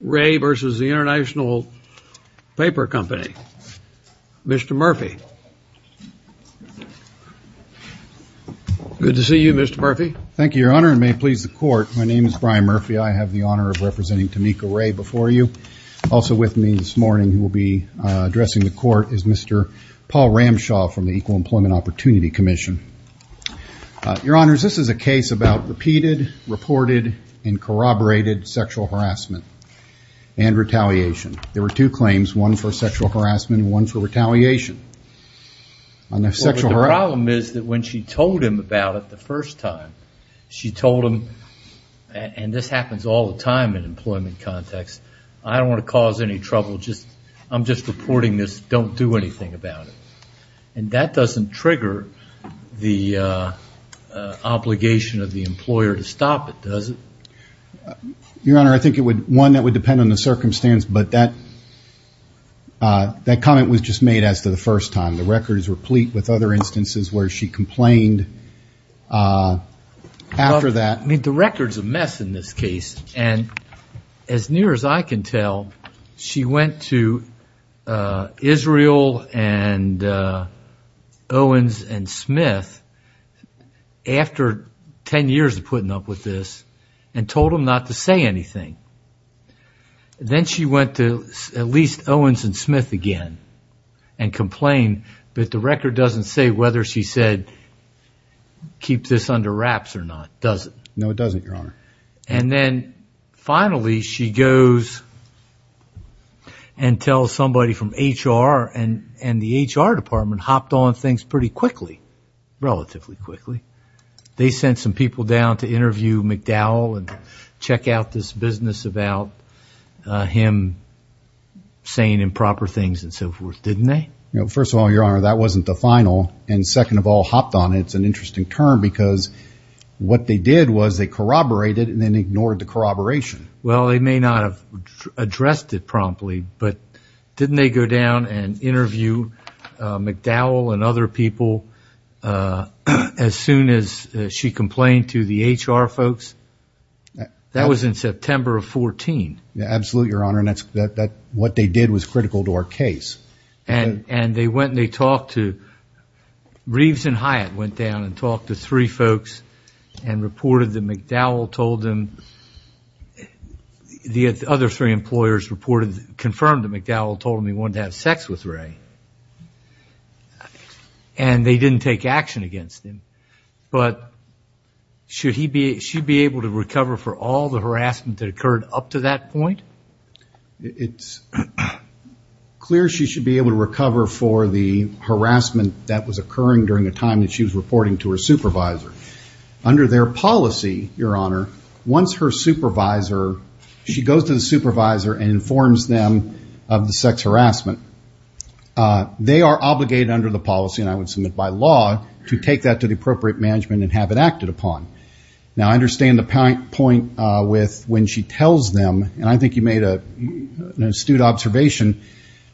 Ray v. International Paper Company. Mr. Murphy. Good to see you, Mr. Murphy. Thank you, Your Honor, and may it please the Court, my name is Brian Murphy. I have the honor of representing Tomika Ray before you. Also with me this morning who will be addressing the Court is Mr. Paul Ramshaw from the Equal Employment Opportunity Commission. Your Honor, this is a case about repeated, reported, and corroborated sexual harassment and retaliation. There were two claims, one for sexual harassment and one for retaliation. The problem is that when she told him about it the first time, she told him, and this happens all the time in an employment context, I don't want to cause any trouble, I'm just the obligation of the employer to stop it, does it? Your Honor, I think it would, one that would depend on the circumstance, but that comment was just made as to the first time. The record is replete with other instances where she complained after that. The record's a mess in this case, and as near as I can tell, she went to Israel and Owens and Smith after 10 years of putting up with this and told them not to say anything. Then she went to at least Owens and Smith again and complained, but the record doesn't say whether she said keep this under wraps or not, does it? No, it doesn't, Your Honor. And then finally she goes and tells somebody from HR, and the HR department hopped on things pretty quickly. Relatively quickly. They sent some people down to interview McDowell and check out this business about him saying improper things and so forth, didn't they? First of all, Your Honor, that wasn't the final, and second of all, hopped on it, it's an interesting term because what they did was they corroborated and then ignored the corroboration. Well, they may not have addressed it promptly, but didn't they go down and interview McDowell and other people as soon as she complained to the HR folks? That was in September of 14. Absolutely, Your Honor, and what they did was critical to our case. And they went and they talked to, Reeves and Hyatt went down and talked to three folks and reported that McDowell told them, the other three employers confirmed that McDowell told them he wanted to have sex with Ray, and they didn't take action against him. But should she be able to recover for all the harassment that occurred up to that point? It's clear she should be able to recover for the harassment that was occurring during the time that she was reporting to her supervisor. Under their policy, Your Honor, once her supervisor, she goes to the harassment, they are obligated under the policy, and I would submit by law, to take that to the appropriate management and have it acted upon. Now, I understand the point with when she tells them, and I think you made an astute observation,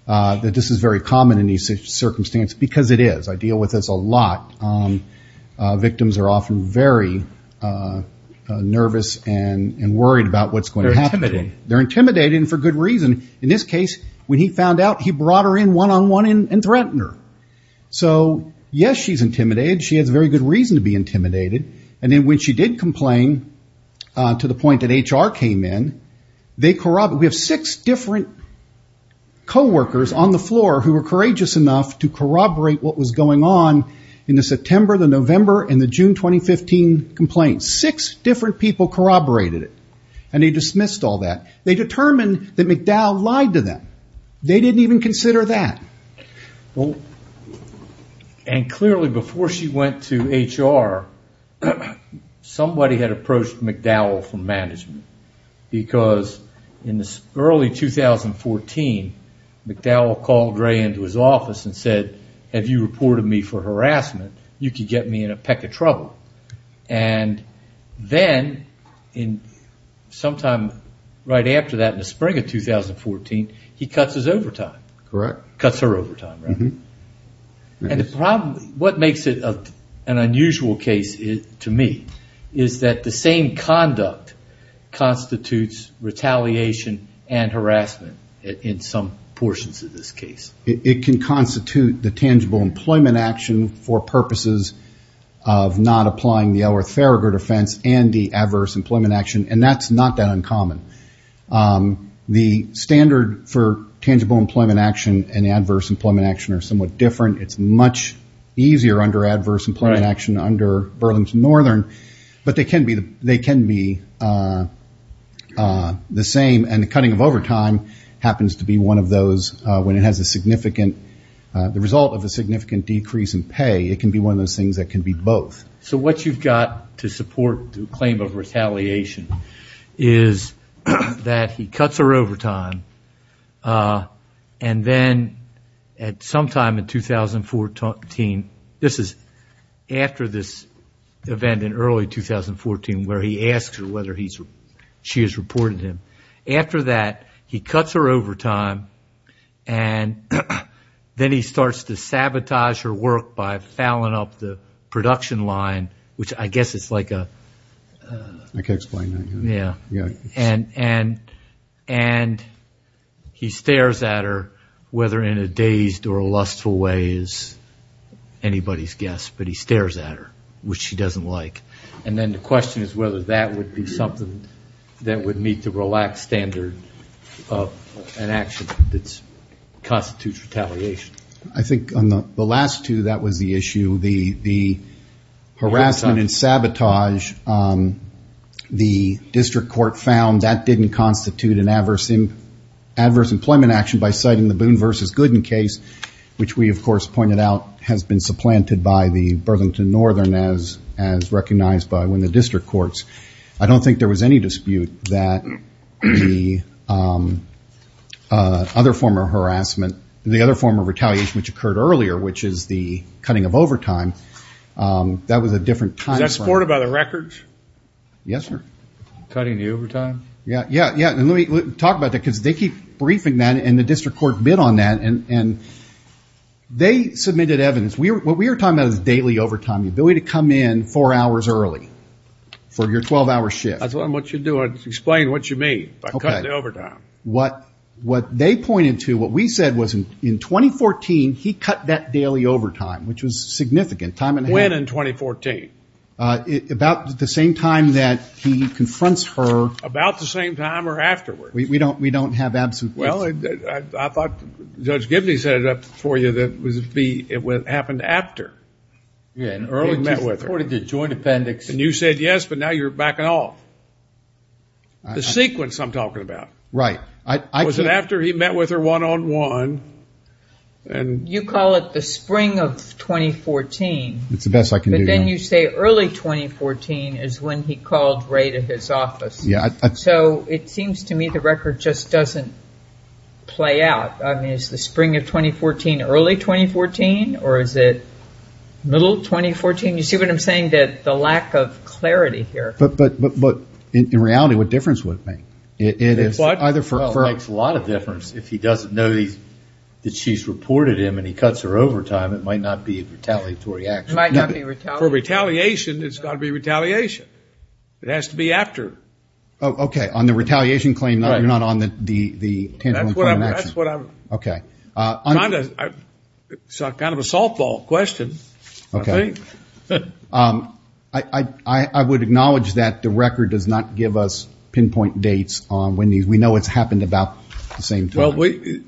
that this is very common in these circumstances, because it is. I deal with this a lot. Victims are often very nervous and worried about what's going to happen. They're intimidated, and for good reason. He brought her in one-on-one and threatened her. So, yes, she's intimidated. She has very good reason to be intimidated. And then when she did complain, to the point that HR came in, we have six different coworkers on the floor who were courageous enough to corroborate what was going on in the September, the November, and the June 2015 complaints. Six different people corroborated it, and they dismissed all that. They determined that they didn't even consider that. Well, and clearly, before she went to HR, somebody had approached McDowell from management, because in early 2014, McDowell called Ray into his office and said, have you reported me for harassment? You could get me in a peck of trouble. And then, sometime right after that, in the spring of 2014, he cuts his overtime. Cuts her overtime. What makes it an unusual case, to me, is that the same conduct constitutes retaliation and harassment in some portions of this case. It can constitute the tangible employment action for purposes of not applying the Elrath-Farragut offense and the adverse employment action, and that's not that uncommon. The standard for tangible employment action and adverse employment action are somewhat different. It's much easier under adverse employment action under Burlington Northern, but they can be the same, and the cutting of overtime happens to be one of those, when it has the result of a significant decrease in pay, it can be one of those things that can be both. What you've got to support the claim of retaliation is that he cuts her overtime, and then at some time in 2014, this is after this event in early 2014, where he asks her whether she has reported him. After that, he cuts her overtime, and then he starts to sabotage her work by fouling up the production line, which I guess is like a... I can't explain that. And he stares at her, whether in a dazed or lustful way is anybody's guess, but he stares at her, which she doesn't like. And then the question is whether that would be something that would meet the relaxed standard of an action that constitutes retaliation. I think on the last two, that was the issue. The harassment and sabotage, the district court found that didn't constitute an adverse employment action by citing the Boone versus Gooden case, which we, of course, pointed out has been supplanted by the Burlington Northern as recognized by when the district courts. I don't think there was any dispute that the other form of harassment, the other form of retaliation, which occurred earlier, which is the cutting of overtime, that was a different time frame. Was that supported by the records? Yes, sir. Cutting the overtime? Yeah, yeah, yeah. And let me talk about that, because they keep briefing that, and the district court bid on that, and they submitted evidence. What we are talking about is daily overtime, the ability to come in four hours early for your 12-hour shift. I told them what you're doing, explain what you mean by cutting the overtime. What they pointed to, what we said, was in 2014, he cut that daily overtime, which was significant. When in 2014? About the same time that he confronts her. About the same time or afterwards? We don't have absolute... Well, I thought Judge Gibney set it up for you that it would happen after you met with her. He supported the joint appendix. And you said yes, but now you're backing off. The sequence I'm talking about. Right. Was it after he met with her one-on-one? You call it the spring of 2014. It's the best I can do, yeah. But then you say early 2014 is when he called Ray to his office. Yeah. So it seems to me the record just doesn't play out. I mean, is the spring of 2014 early 2014, or is it middle 2014? You see what I'm saying, that the lack of clarity here. But in reality, what difference would it make? What? It makes a lot of difference if he doesn't know that she's reported him and he cuts her overtime, it might not be a retaliatory action. It might not be retaliatory. For retaliation, it's got to be retaliation. It has to be after. Oh, okay. On the retaliation claim, you're not on the tangible point of action. That's what I'm... It's kind of a softball question, I think. I would acknowledge that the record does not give us pinpoint dates on when these... We know it's happened about the same time. Well, we...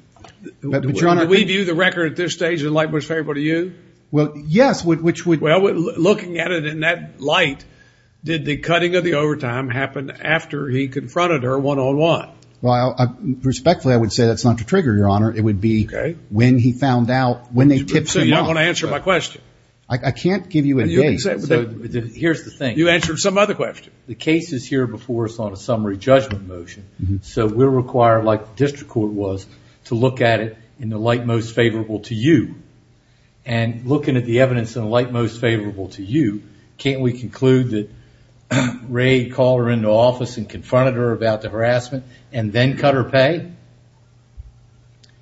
But, Your Honor... Do we view the record at this stage in light what's favorable to you? Well, yes, which would... Well, looking at it in that light, did the cutting of the overtime happen after he confronted her one-on-one? Well, respectfully, I would say that's not to trigger, Your Honor. It would be... Okay.... when he found out... So, you're not going to answer my question? I can't give you a date, so here's the thing. You answered some other question. The case is here before us on a summary judgment motion, so we're required, like the district court was, to look at it in the light most favorable to you. Looking at the evidence in the light most favorable to you, can't we conclude that Ray called her into office and confronted her about the harassment and then cut her pay?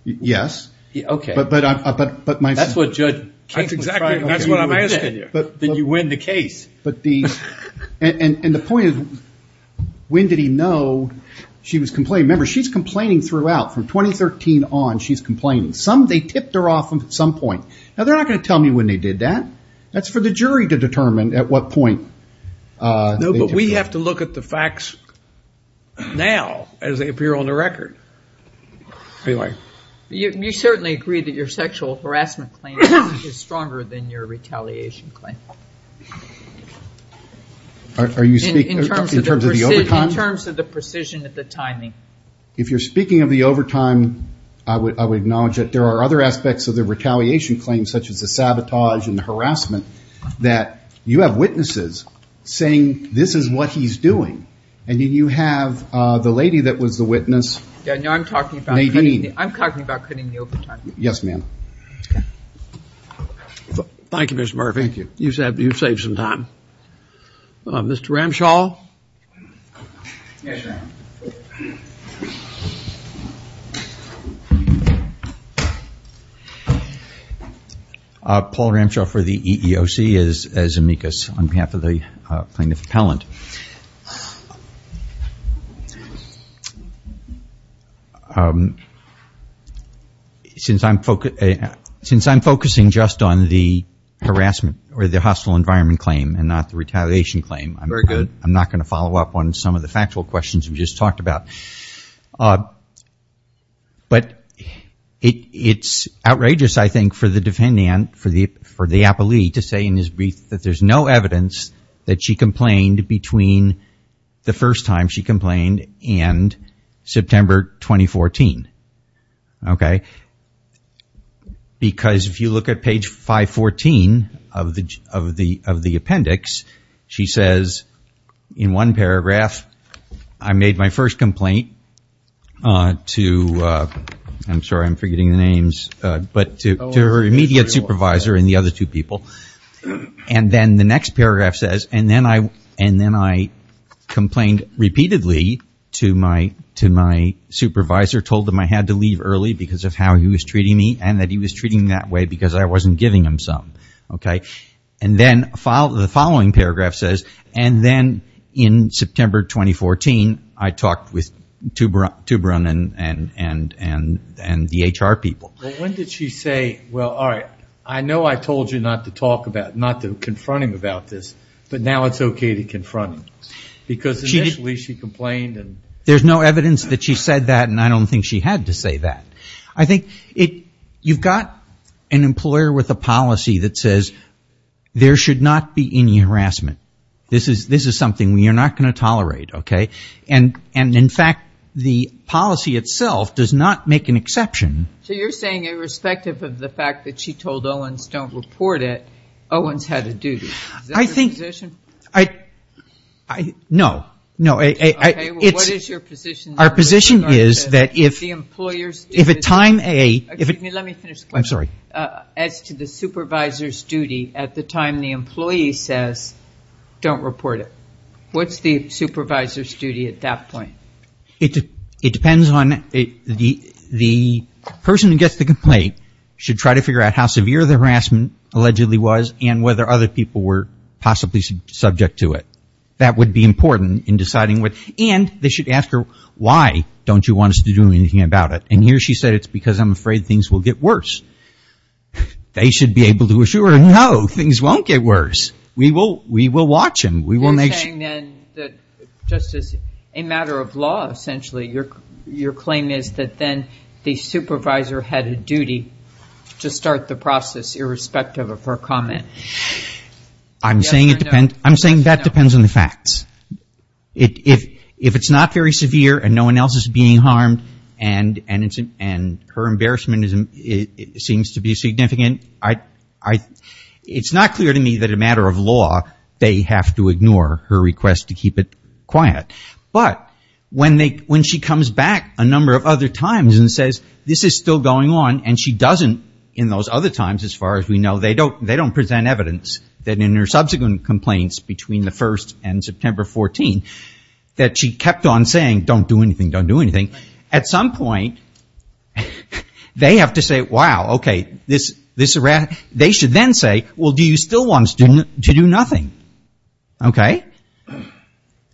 Yes. Okay. But my... That's what Judge Case was trying to... That's exactly... Okay.... that's what I'm asking you. But... Then you win the case. But the... And the point is, when did he know she was complaining? Remember, she's complaining throughout, from 2013 on, she's complaining. Some... They tipped her off at some point. That's for the jury to determine at what point they tipped her off. Look at the facts now, as they appear on the record, if you like. You certainly agree that your sexual harassment claim is stronger than your retaliation claim. Are you speaking... In terms of the... In terms of the overtime? In terms of the precision of the timing. If you're speaking of the overtime, I would acknowledge that there are other aspects of the retaliation claim, such as the sabotage and the harassment, that you have witnesses saying, this is what he's doing. And then you have the lady that was the witness... Yeah. No, I'm talking about... Nadine. I'm talking about cutting the overtime. Yes, ma'am. Okay. Thank you, Mr. Murphy. Thank you. You've saved some time. Mr. Ramshaw? Yes, sir. Paul Ramshaw for the EEOC, as amicus, on behalf of the EEOC. I'm the plaintiff appellant. Since I'm focusing just on the harassment or the hostile environment claim and not the retaliation claim... Very good. I'm not going to follow up on some of the factual questions we just talked about. But it's outrageous, I think, for the defendant, for the appellee, to say in his brief that there's no evidence that she complained between the first time she complained and September 2014. Because if you look at page 514 of the appendix, she says in one paragraph, I made my first complaint to... I'm sorry, I'm forgetting the names, but to her immediate supervisor and the other two people. And then the next paragraph says, and then I complained repeatedly to my supervisor, told him I had to leave early because of how he was treating me and that he was treating me that way because I wasn't giving him some. And then the following paragraph says, and then in September 2014, I talked with Toubron and the HR people. When did she say, well, all right, I know I told you not to talk about, not to confront him about this, but now it's okay to confront him? Because initially she complained and... There's no evidence that she said that, and I don't think she had to say that. I think you've got an employer with a policy that says there should not be any harassment. This is something we are not going to tolerate, okay? And in fact, the policy itself does not make an exception. So you're saying irrespective of the fact that she told Owens don't report it, Owens had a duty. Is that your position? I think... No. Okay, well, what is your position? Our position is that if... The employer's duty... If a time... Excuse me, let me finish. I'm sorry. As to the supervisor's duty at the time the employee says don't report it. What's the supervisor's duty at that point? It depends on... The person who gets the complaint should try to figure out how severe the harassment allegedly was and whether other people were possibly subject to it. That would be important in deciding what... And they should ask her, why don't you want us to do anything about it? And here she said it's because I'm afraid things will get worse. They should be able to assure her, no, things won't get worse. We will watch him. We will make sure... Are you saying then that just as a matter of law, essentially, your claim is that then the supervisor had a duty to start the process irrespective of her comment? I'm saying it depends... I'm saying that depends on the facts. If it's not very severe and no one else is being harmed and her embarrassment seems to ignore her request to keep it quiet, but when she comes back a number of other times and says this is still going on and she doesn't in those other times, as far as we know, they don't present evidence that in her subsequent complaints between the 1st and September 14, that she kept on saying don't do anything, don't do anything. At some point, they have to say, wow, okay, this... They should then say, well, do you still want us to do nothing?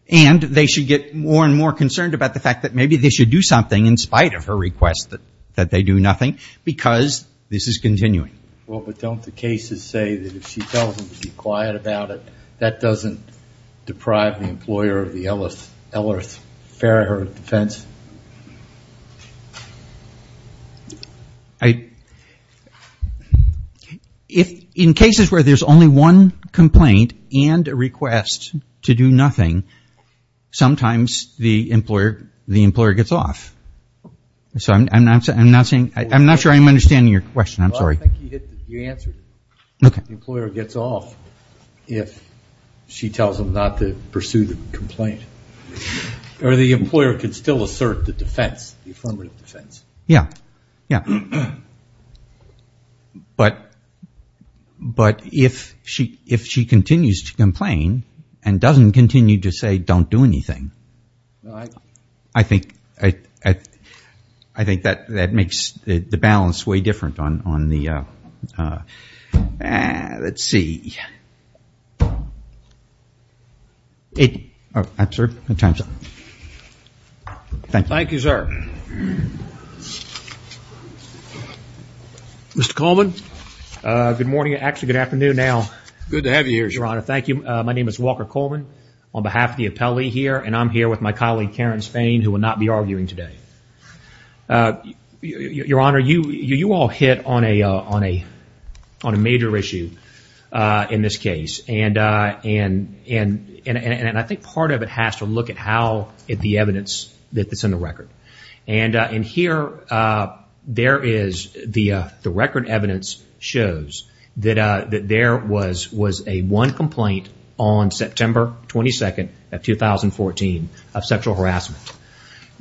And they should get more and more concerned about the fact that maybe they should do something in spite of her request that they do nothing, because this is continuing. Well, but don't the cases say that if she tells them to be quiet about it, that doesn't deprive the employer of the LRF fare, her defense? If in cases where there's only one complaint and a request to do nothing, sometimes the employer gets off, so I'm not saying... I'm not sure I'm understanding your question. I'm sorry. Well, I think you answered it. The employer gets off if she tells them not to pursue the complaint or the employer could still assert the defense, the affirmative defense. But if she continues to complain and doesn't continue to say don't do anything, I think that makes the balance way different on the... Let's see. Thank you, sir. Mr. Coleman. Good morning. Actually, good afternoon now. Good to have you here, sir. Your Honor, thank you. My name is Walker Coleman on behalf of the appellee here, and I'm here with my colleague Karen Spain, who will not be arguing today. Your Honor, you all hit on a major issue in this case, and I think part of it has to look at how the evidence that's in the record. In here, there is... The record evidence shows that there was a one complaint on September 22nd of 2014 of sexual harassment.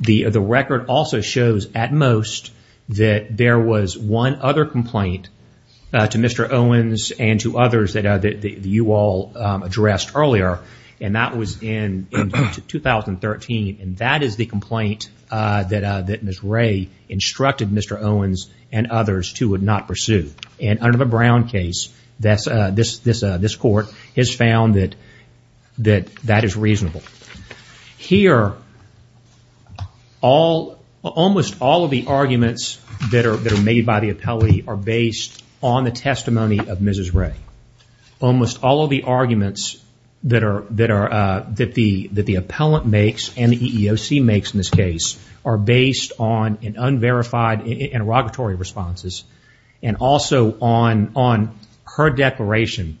The record also shows, at most, that there was one other complaint to Mr. Owens and to others that you all addressed earlier, and that was in 2013. That is the complaint that Ms. Ray instructed Mr. Owens and others to not pursue. Under the Brown case, this court has found that that is reasonable. Here, almost all of the arguments that are made by the appellee are based on the testimony of Mrs. Ray. Almost all of the arguments that the appellant makes and the EEOC makes in this case are based on an unverified interrogatory responses, and also on her declaration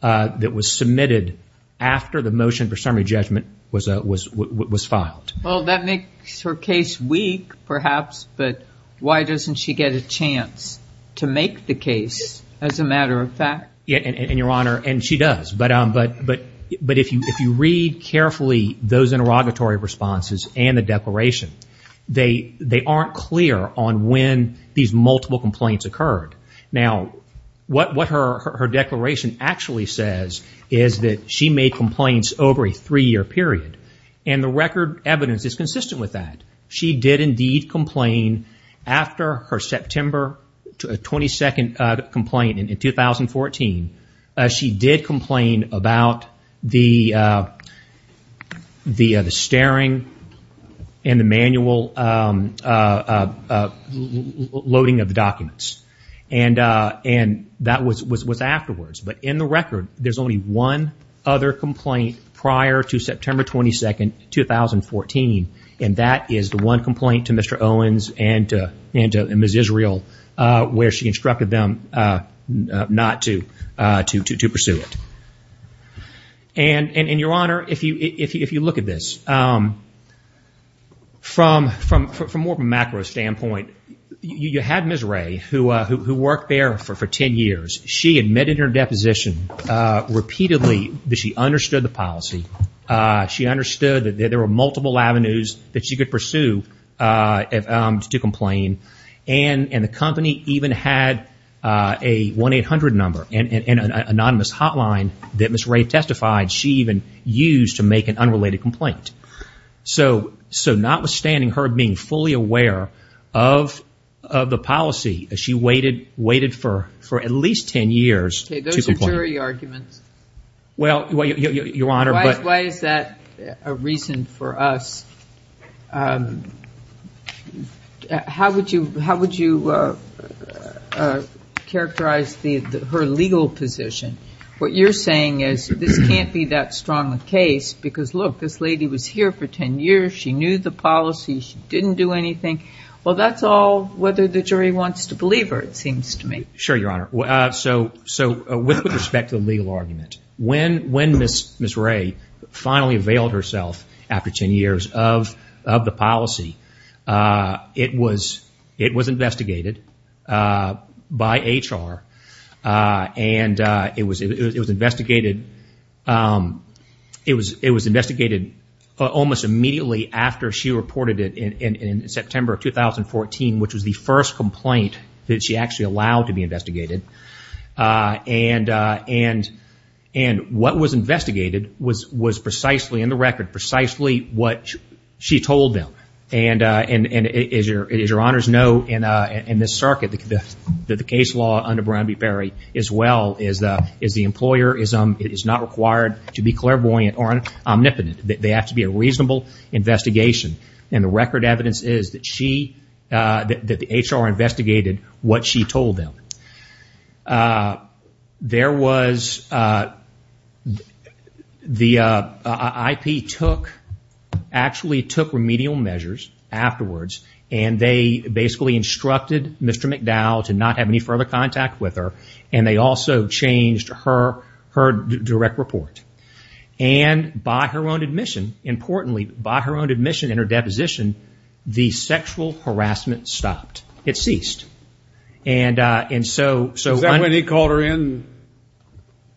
that was submitted after the motion for summary judgment was filed. Well, that makes her case weak, perhaps, but why doesn't she get a chance to make the case as a matter of fact? Your Honor, and she does, but if you read carefully those interrogatory responses and the declaration, they aren't clear on when these multiple complaints occurred. Now, what her declaration actually says is that she made complaints over a three-year period, and the record evidence is consistent with that. She did, indeed, complain after her September 22nd complaint in 2014. She did complain about the staring and the manual loading of the documents. And that was afterwards, but in the record, there's only one other complaint prior to September 22nd, 2014, and that is the one complaint to Mr. Owens and Ms. Israel, where she instructed them not to pursue it. And, Your Honor, if you look at this, from more of a macro standpoint, you had Ms. Ray who worked there for 10 years. She admitted her deposition repeatedly that she understood the policy. She understood that there were multiple avenues that she could pursue to complain, and the company even had a 1-800 number and an anonymous hotline that Ms. Ray testified she even used to make an unrelated complaint. So notwithstanding her being fully aware of the policy, she waited for at least 10 years to complain. Okay, those are jury arguments. Well, Your Honor, but... Why is that a reason for us? How would you characterize her legal position? What you're saying is, this can't be that strong a case because, look, this lady was here for 10 years, she knew the policy, she didn't do anything. Well, that's all whether the jury wants to believe her, it seems to me. Sure, Your Honor. So with respect to the legal argument, when Ms. Ray finally availed herself after 10 years of the policy, it was investigated by HR, and it was investigated by HR. And it was investigated almost immediately after she reported it in September of 2014, which was the first complaint that she actually allowed to be investigated. And what was investigated was precisely, in the record, precisely what she told them. And as Your Honors know, in this circuit, the case law under Brown v. Perry, as well, is the employer is not required to be clairvoyant or omnipotent. They have to be a reasonable investigation. And the record evidence is that she, that the HR investigated what she told them. There was, the IP took, actually took remedial measures afterwards, and they basically instructed Mr. McDowell to not have any further contact with her. And they also changed her direct report. And by her own admission, importantly, by her own admission in her deposition, the sexual harassment stopped. It ceased. And so- Is that when he called her in and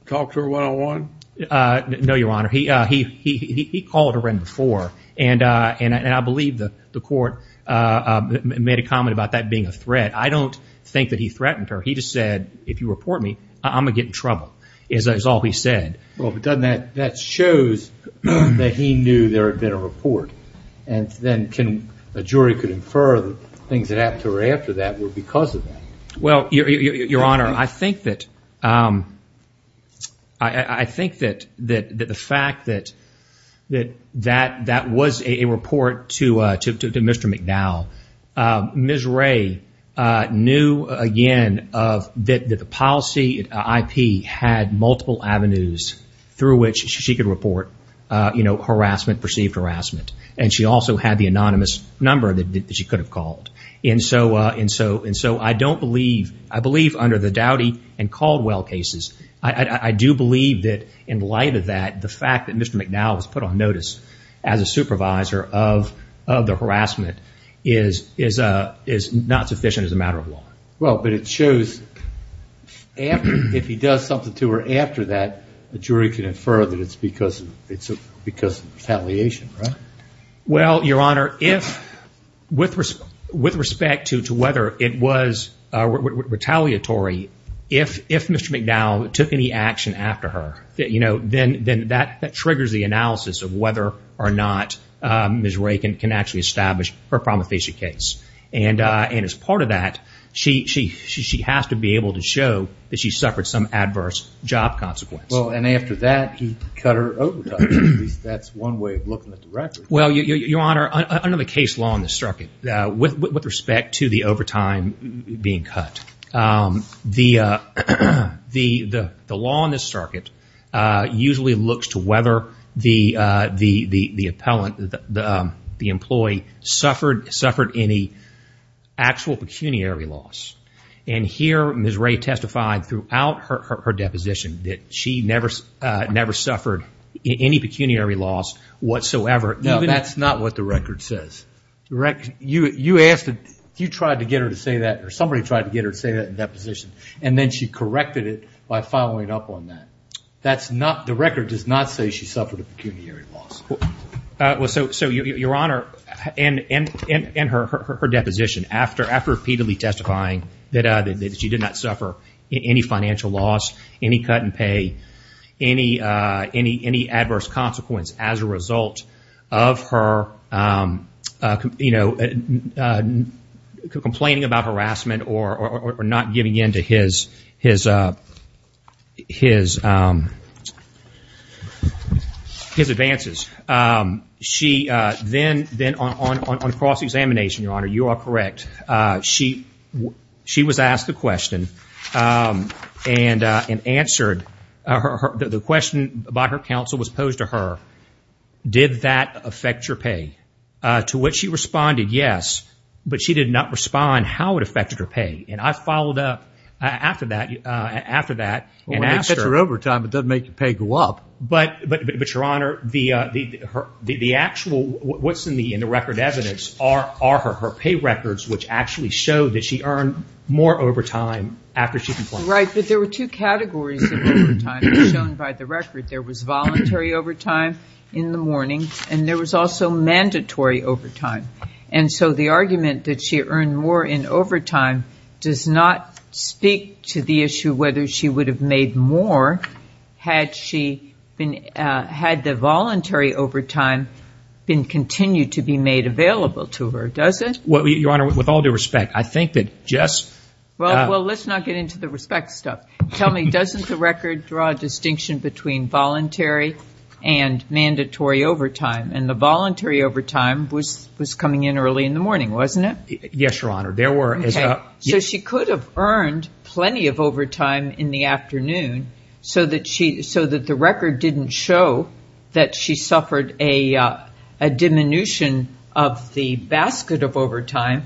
talked to her one-on-one? No, Your Honor, he called her in before, and I believe the court made a comment about that being a threat. I don't think that he threatened her. He just said, if you report me, I'm going to get in trouble, is all he said. Well, but doesn't that, that shows that he knew there had been a report. And then can, a jury could infer the things that happened to her after that were because of that. Well, Your Honor, I think that, I think that the fact that that was a report to Mr. McDowell, Ms. Ray knew, again, that the policy IP had multiple avenues through which she could report, you know, harassment, perceived harassment. And she also had the anonymous number that she could have called. And so, and so, and so I don't believe, I believe under the Dowdy and Caldwell cases, I do believe that in light of that, the fact that Mr. McDowell was put on notice as a supervisor of, of the harassment is, is, is not sufficient as a matter of law. Well, but it shows if he does something to her after that, a jury can infer that it's because it's because retaliation, right? Well, Your Honor, if with respect to, to whether it was retaliatory, if, if Mr. McDowell took any action after her that, you know, then, then that, that triggers the analysis of whether or not Ms. Ray can, can actually establish her promulgation case. And and as part of that, she, she, she, she has to be able to show that she suffered some adverse job consequences. Well, and after that, he cut her overtime. That's one way of looking at the record. Well, Your Honor, under the case law in the circuit, with respect to the overtime being cut, the, the, the, the law in this circuit usually looks to whether the, the, the, the appellant, the, the, the employee suffered, suffered any actual pecuniary loss. And here Ms. Ray testified throughout her, her, her deposition that she never, never suffered any pecuniary loss whatsoever. No, that's not what the record says. The record, you, you asked, you tried to get her to say that, or somebody tried to get her to say that in deposition, and then she corrected it by following up on that. That's not, the record does not say she suffered a pecuniary loss. Well, so, so Your Honor, and, and, and, and her, her, her deposition after, after repeatedly testifying that she did not suffer any financial loss, any cut in pay, any, any, any adverse consequence as a result of her, you know, complaining about harassment or, or, or not giving in to his, his, his, his advances. She then, then on, on, on cross-examination, Your Honor, you are correct, she, she was to her, did that affect your pay? To which she responded, yes, but she did not respond how it affected her pay. And I followed up after that, after that, and asked her. Well, when it affects your overtime, it doesn't make your pay go up. But, but, but, but Your Honor, the, the, her, the, the actual, what's in the, in the record evidence are, are her, her pay records, which actually show that she earned more overtime after she complained. Right, but there were two categories of overtime as shown by the record. There was voluntary overtime in the morning, and there was also mandatory overtime. And so the argument that she earned more in overtime does not speak to the issue whether she would have made more had she been, had the voluntary overtime been continued to be made available to her, does it? Well, Your Honor, with all due respect, I think that just, well, well, let's not get into the respect stuff. Tell me, doesn't the record draw a distinction between voluntary and mandatory overtime? And the voluntary overtime was, was coming in early in the morning, wasn't it? Yes, Your Honor. There were, as a... Okay. So she could have earned plenty of overtime in the afternoon so that she, so that the record didn't show that she suffered a, a diminution of the basket of overtime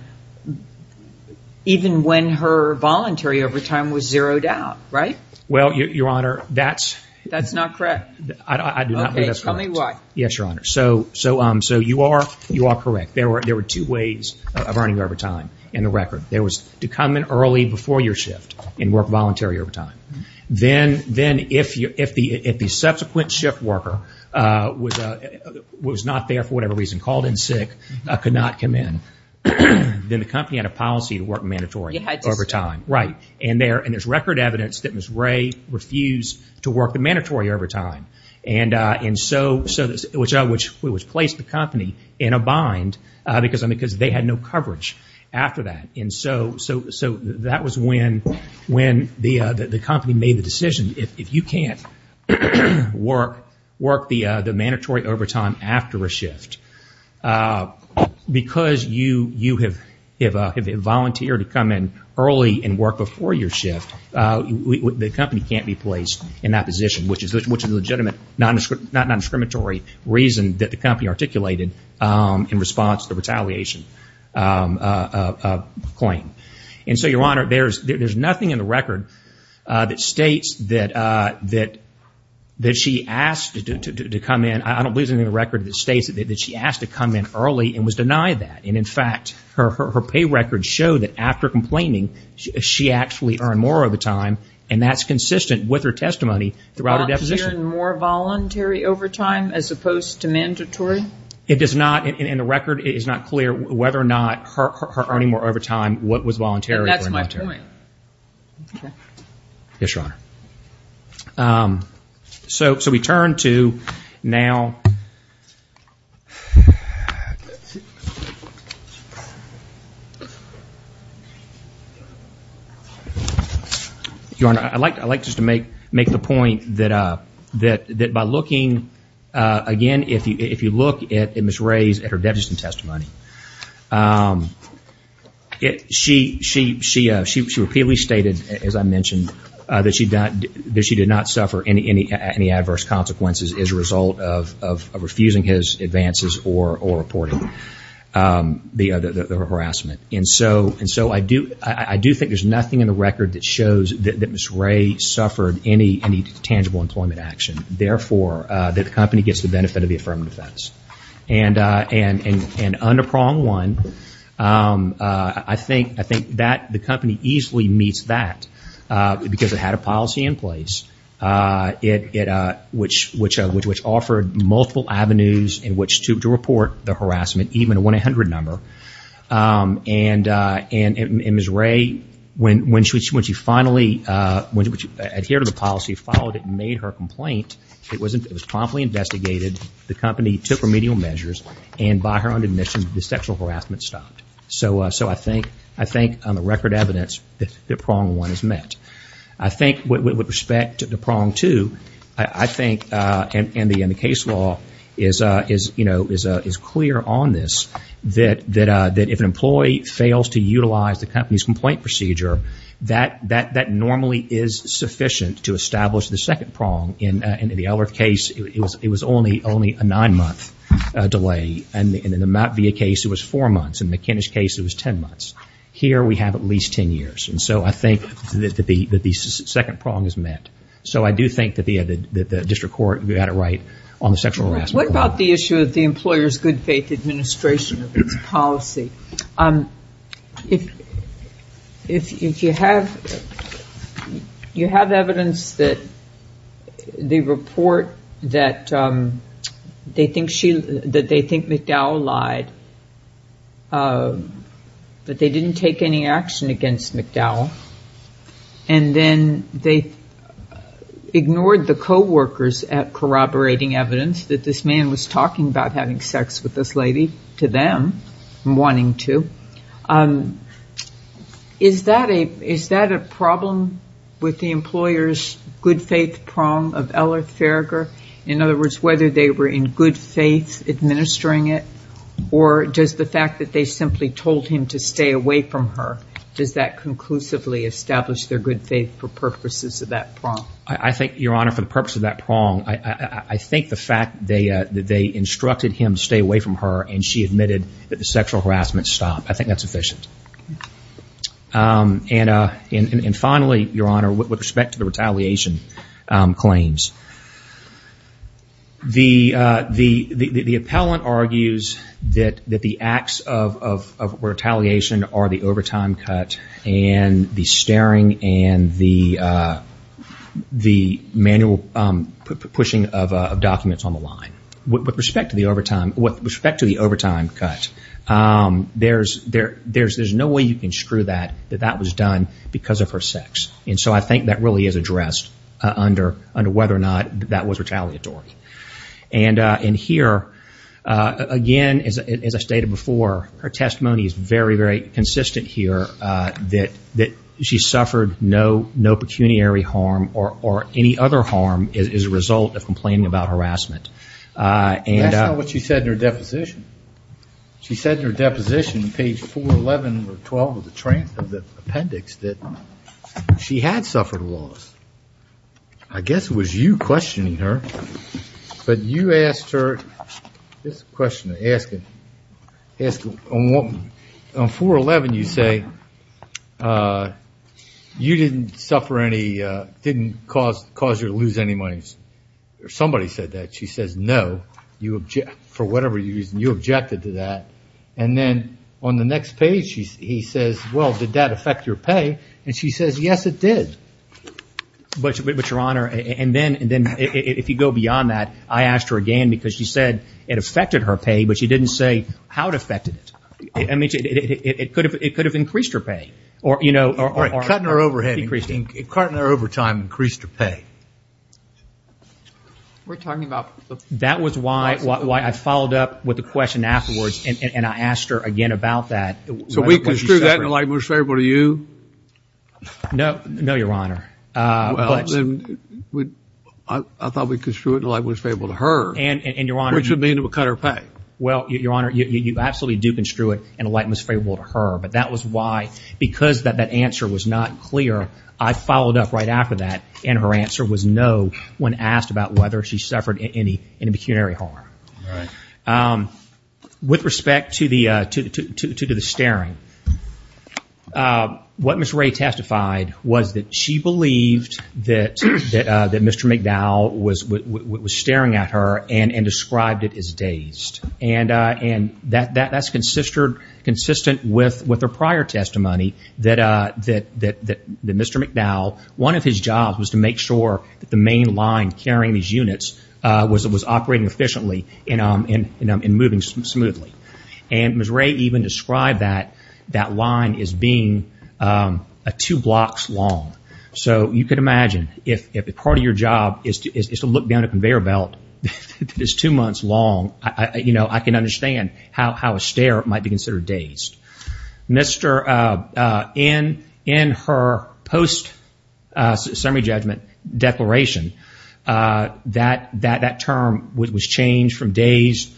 even when her voluntary overtime was zeroed out, right? Well, Your Honor, that's... That's not correct. I do not believe that's correct. Okay, tell me why. Yes, Your Honor. So, so, so you are, you are correct. There were, there were two ways of earning overtime in the record. There was to come in early before your shift and work voluntary overtime. Then, then if you, if the, if the subsequent shift worker was, was not there for whatever reason, called in sick, could not come in, then the company had a policy to work mandatory You had to... Right. And there, and there's record evidence that Ms. Ray refused to work the mandatory overtime. And so, so, which, which placed the company in a bind because, because they had no coverage after that. And so, so, so that was when, when the, the company made the decision, if you can't work, work the, the mandatory overtime after a shift, because you, you have, have, have volunteered to come in early and work before your shift, the company can't be placed in that position, which is, which is a legitimate, non-discriminatory reason that the company articulated in response to the retaliation claim. And so, Your Honor, there's, there's nothing in the record that states that, that, that she asked to, to, to, to come in. I don't believe there's anything in the record that states that she asked to come in early and was denied that. And in fact, her, her, her pay records show that after complaining, she actually earned more overtime. And that's consistent with her testimony throughout her deposition. Volunteering more voluntary overtime as opposed to mandatory? It does not, and the record is not clear whether or not her, her earning more overtime, what was voluntary or mandatory. And that's my point. Okay. Yes, Your Honor. Um, so, so we turn to now, Your Honor, I'd like, I'd like just to make, make the point that, uh, that, that by looking, uh, again, if you, if you look at Ms. Ray's, at her deposition testimony, um, it, she, she, she, uh, she, she repeatedly stated, as I mentioned, uh, that she did not, that she did not suffer any, any, any adverse consequences as a result of, of, of refusing his advances or, or reporting, um, the, uh, the, the harassment. And so, and so I do, I do think there's nothing in the record that shows that, that Ms. Ray suffered any, any tangible employment action, therefore, uh, that the company gets the benefit of the affirmative defense. And, uh, and, and, and under prong one, um, uh, I think, I think that the company easily meets that, uh, because it had a policy in place, uh, it, it, uh, which, which, uh, which, which offered multiple avenues in which to, to report the harassment, even a 1-800 number. Um, and, uh, and, and Ms. Ray, when, when she, when she finally, uh, when she adhered to the policy, followed it and made her complaint, it wasn't, it was promptly investigated. The company took remedial measures and by her own admission, the sexual harassment stopped. So, uh, so I think, I think on the record evidence that, that prong one is met. I think with, with respect to prong two, I, I think, uh, and, and the, and the case law is, uh, is, you know, is, uh, is clear on this that, that, uh, that if an employee fails to utilize the company's complaint procedure, that, that, that normally is sufficient to establish the second prong. In, uh, in the Ellerth case, it was, it was only, only a nine-month, uh, delay. And in the Mapp-Via case, it was four months. In the McKinnish case, it was 10 months. Here we have at least 10 years. And so I think that the, that the second prong is met. So I do think that the, uh, the, the district court, we got it right on the sexual harassment. What about the issue of the employer's good faith administration of its policy? Um, if, if you have, you have evidence that the report that, um, they think she, that they think McDowell lied, uh, that they didn't take any action against McDowell. And then they ignored the coworkers at corroborating evidence that this man was lying to, um, is that a, is that a problem with the employer's good faith prong of Ellerth Farragher? In other words, whether they were in good faith administering it, or does the fact that they simply told him to stay away from her, does that conclusively establish their good faith for purposes of that prong? I think, Your Honor, for the purpose of that prong, I, I, I think the fact they, uh, that she admitted that the sexual harassment stopped, I think that's efficient. Um, and, uh, and, and finally, Your Honor, with respect to the retaliation, um, claims. The, uh, the, the, the, the appellant argues that, that the acts of, of, of retaliation are the overtime cut and the staring and the, uh, the manual, um, pushing of, uh, of documents on the line. With respect to the overtime, with respect to the overtime cut, um, there's, there, there's, there's no way you can screw that, that that was done because of her sex. And so I think that really is addressed, uh, under, under whether or not that was retaliatory. And uh, in here, uh, again, as, as I stated before, her testimony is very, very consistent here, uh, that, that she suffered no, no pecuniary harm or, or any other harm as a result of that. Uh, and, uh. That's not what she said in her deposition. She said in her deposition, page 411 or 12 of the trans, of the appendix, that she had suffered a loss. I guess it was you questioning her, but you asked her, it's a question to ask it, on 411 you say, uh, you didn't suffer any, uh, didn't cause, cause her to lose any money. Somebody said that. She says, no, you object, for whatever reason, you objected to that. And then on the next page, she, he says, well, did that affect your pay? And she says, yes, it did. But your Honor, and then, and then if you go beyond that, I asked her again because she said it affected her pay, but she didn't say how it affected it. I mean, it, it, it, it could have, it could have increased her pay or, you know, or cut in her overhead, cut in her overtime, increased her pay. We're talking about the, that was why, why, why I followed up with the question afterwards and I asked her again about that. So we construed that in a light most favorable to you? No, no, your Honor. Uh, I thought we construed it in a light most favorable to her, which would mean it would cut her pay. Well, your Honor, you, you absolutely do construe it in a light most favorable to her, but that was why, because that, that answer was not clear, I followed up right after that and her answer was no when asked about whether she suffered any, any pecuniary harm. With respect to the, to, to, to, to the staring, what Ms. Ray testified was that she believed that, that, that Mr. McDowell was, was staring at her and, and described it as dazed. And, and that, that, that's consistered, consistent with, with her prior testimony that, uh, that, that, that Mr. McDowell, one of his jobs was to make sure that the main line carrying these units, uh, was, was operating efficiently and, um, and, and, and moving smoothly. And Ms. Ray even described that, that line as being, um, two blocks long. So you could imagine if, if a part of your job is to, is, is to look down a conveyor belt that is two months long, I, I, you know, I can understand how, how a stare might be considered dazed. Mr., uh, uh, in, in her post, uh, summary judgment declaration, uh, that, that, that term was changed from dazed,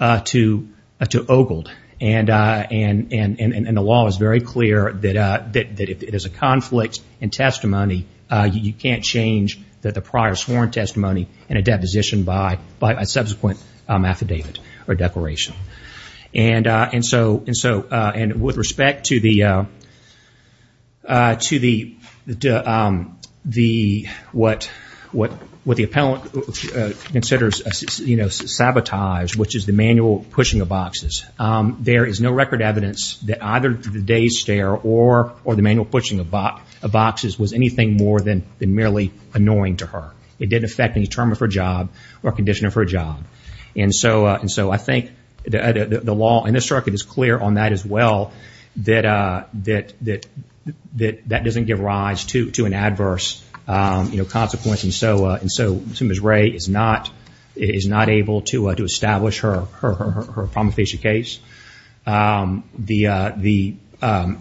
uh, to, uh, to ogled and, uh, and, and, and, and the law is very clear that, uh, that, that if there's a conflict in testimony, uh, you can't change that the prior sworn testimony and a deposition by, by a subsequent, um, affidavit or declaration. And, uh, and so, and so, uh, and with respect to the, uh, uh, to the, the, um, the, what, what, what the appellant considers, you know, sabotage, which is the manual pushing of boxes. Um, there is no record evidence that either the dazed stare or, or the manual pushing of boxes was anything more than, than merely annoying to her. It didn't affect any term of her job or condition of her job. And so, uh, and so I think the, uh, the, the law in this circuit is clear on that as well, that, uh, that, that, that, that doesn't give rise to, to an adverse, um, you know, consequence. And so, uh, and so Ms. Ray is not, is not able to, uh, to establish her, her, her, her promophasia case. Um, the, uh, the, um,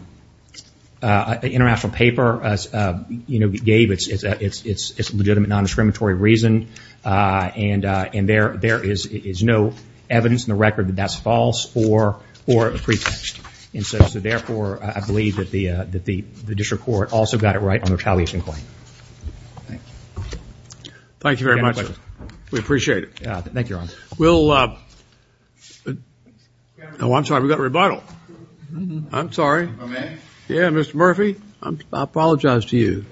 uh, the international paper, uh, uh, you know, gave it's, it's, it's, it's legitimate non-discriminatory reason. Uh, and, uh, and there, there is, is no evidence in the record that that's false or, or a pretext. And so, so therefore, I believe that the, uh, that the, the district court also got it right on the retaliation claim. Thank you. Thank you very much, sir. We appreciate it. Thank you, Your Honor. We'll, uh, oh, I'm sorry, we've got a rebuttal. I'm sorry. Yeah, Mr. Murphy, I apologize to you.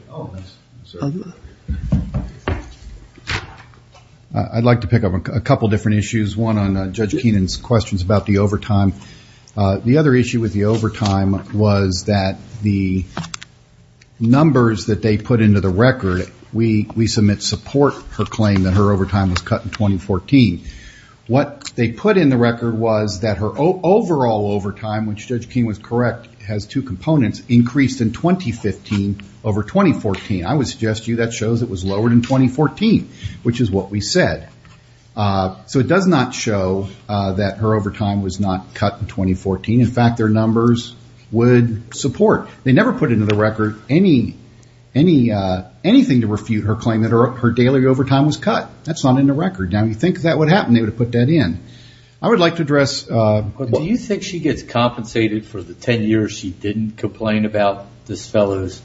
I'd like to pick up on a couple of different issues. One on, uh, Judge Keenan's questions about the overtime. Uh, the other issue with the overtime was that the numbers that they put into the record, we, we submit support her claim that her overtime was cut in 2014. What they put in the record was that her overall overtime, which Judge Keenan was correct, has two components, increased in 2015 over 2014. I would suggest to you that shows it was lowered in 2014. Which is what we said. Uh, so it does not show, uh, that her overtime was not cut in 2014. In fact, their numbers would support. They never put into the record any, any, uh, anything to refute her claim that her, her daily overtime was cut. That's not in the record. Now, you think that would happen? They would have put that in. I would like to address, uh. Do you think she gets compensated for the 10 years she didn't complain about this fellow's?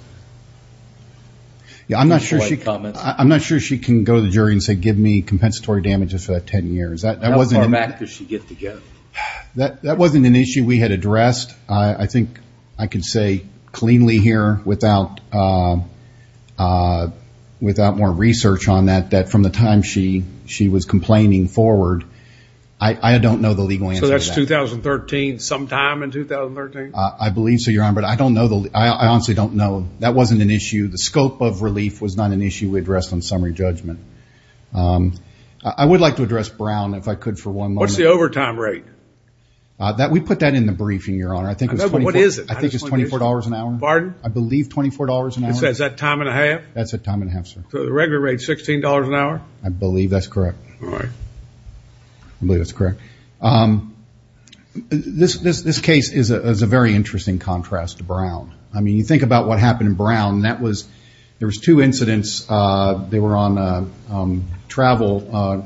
Yeah, I'm not sure she, I'm not sure she can go to the jury and say, give me compensatory damages for that 10 years. That wasn't. How far back does she get to go? That, that wasn't an issue we had addressed. I think I can say cleanly here without, uh, uh, without more research on that, that from the time she, she was complaining forward. I don't know the legal answer. So that's 2013 sometime in 2013? I believe so, Your Honor. But I don't know. I honestly don't know. That wasn't an issue. The scope of relief was not an issue we addressed on summary judgment. Um, I would like to address Brown if I could for one moment. What's the overtime rate? Uh, that, we put that in the briefing, Your Honor. I think it was 24. What is it? I think it's $24 an hour. Pardon? I believe $24 an hour. Is that time and a half? That's a time and a half, sir. So the regular rate, $16 an hour? I believe that's correct. All right. I believe that's correct. Um, this, this, this case is a, is a very interesting contrast to Brown. I mean, you think about what happened in Brown. That was, there was two incidents. Uh, they were on, uh, um, travel, uh,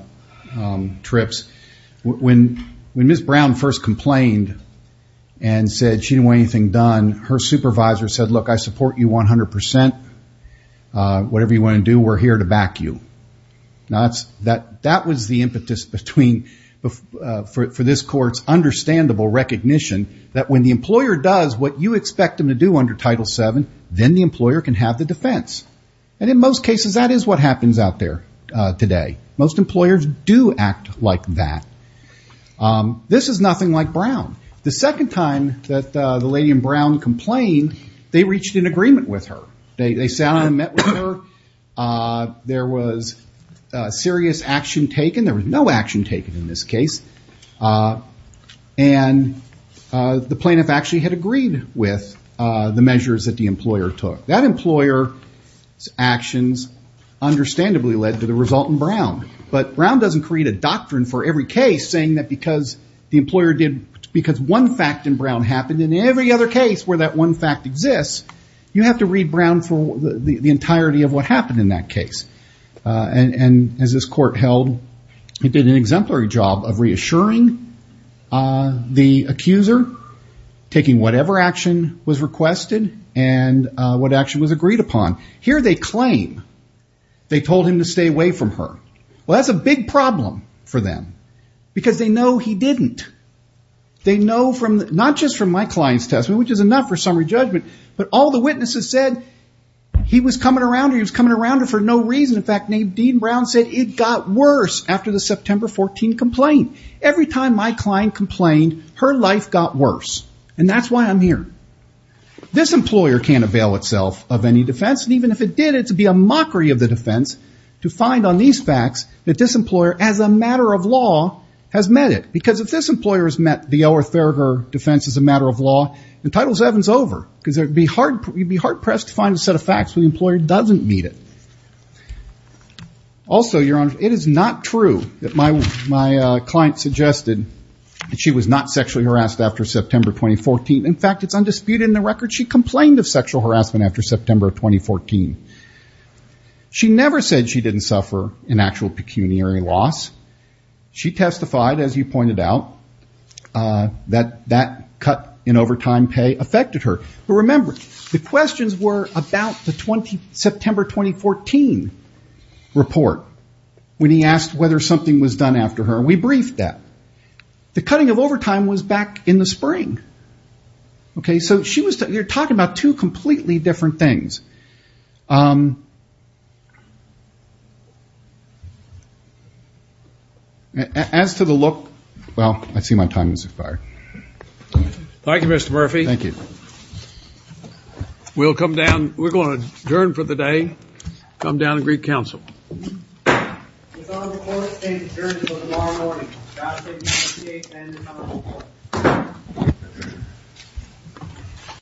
um, trips when, when Ms. Brown first complained and said she didn't want anything done. Her supervisor said, look, I support you 100%. Uh, whatever you want to do, we're here to back you. Now that's, that, that was the impetus between, uh, for, for this court's understandable recognition that when the employer does what you expect them to do under Title VII, then the employer can have the defense. And in most cases, that is what happens out there, uh, today. Most employers do act like that. Um, this is nothing like Brown. The second time that, uh, the lady in Brown complained, they reached an agreement with her. They, they sat down and met with her. Uh, there was a serious action taken. There was no action taken in this case. Uh, and, uh, the plaintiff actually had agreed with, uh, the measures that the employer took. That employer's actions understandably led to the result in Brown. But Brown doesn't create a doctrine for every case saying that because the employer did, because one fact in Brown happened in every other case where that one fact exists, you have to read Brown for the entirety of what happened in that case. Uh, and, and as this court held, it did an exemplary job of reassuring, uh, the accuser, taking whatever action was requested and, uh, what action was agreed upon. Here they claim they told him to stay away from her. Well, that's a big problem for them because they know he didn't. They know from, not just from my client's testimony, which is enough for summary judgment, but all the witnesses said he was coming around her. He was coming around her for no reason. In fact, named Dean Brown said it got worse after the September 14 complaint. Every time my client complained, her life got worse. And that's why I'm here. This employer can't avail itself of any defense. And even if it did, it'd be a mockery of the defense to find on these facts that this employer as a matter of law has met it. Because if this employer has met the L. R. Thurger defense as a matter of law, the title seven's over because there'd be hard, you'd be hard pressed to find a set of facts when the employer doesn't meet it. Also, Your Honor, it is not true that my, my, uh, client suggested that she was not sexually harassed after September 2014. In fact, it's undisputed in the record. She complained of sexual harassment after September of 2014. She never said she didn't suffer an actual pecuniary loss. She testified, as you pointed out, uh, that, that cut in overtime pay affected her. But remember, the questions were about the 20, September 2014 report. When he asked whether something was done after her, we briefed that. The cutting of overtime was back in the spring. Okay, so she was, you're talking about two completely different things. Um, as to the look, well, I see my time has expired. Thank you, Mr. Murphy. Thank you. We'll come down. We're going to adjourn for the day. Come down and greet counsel.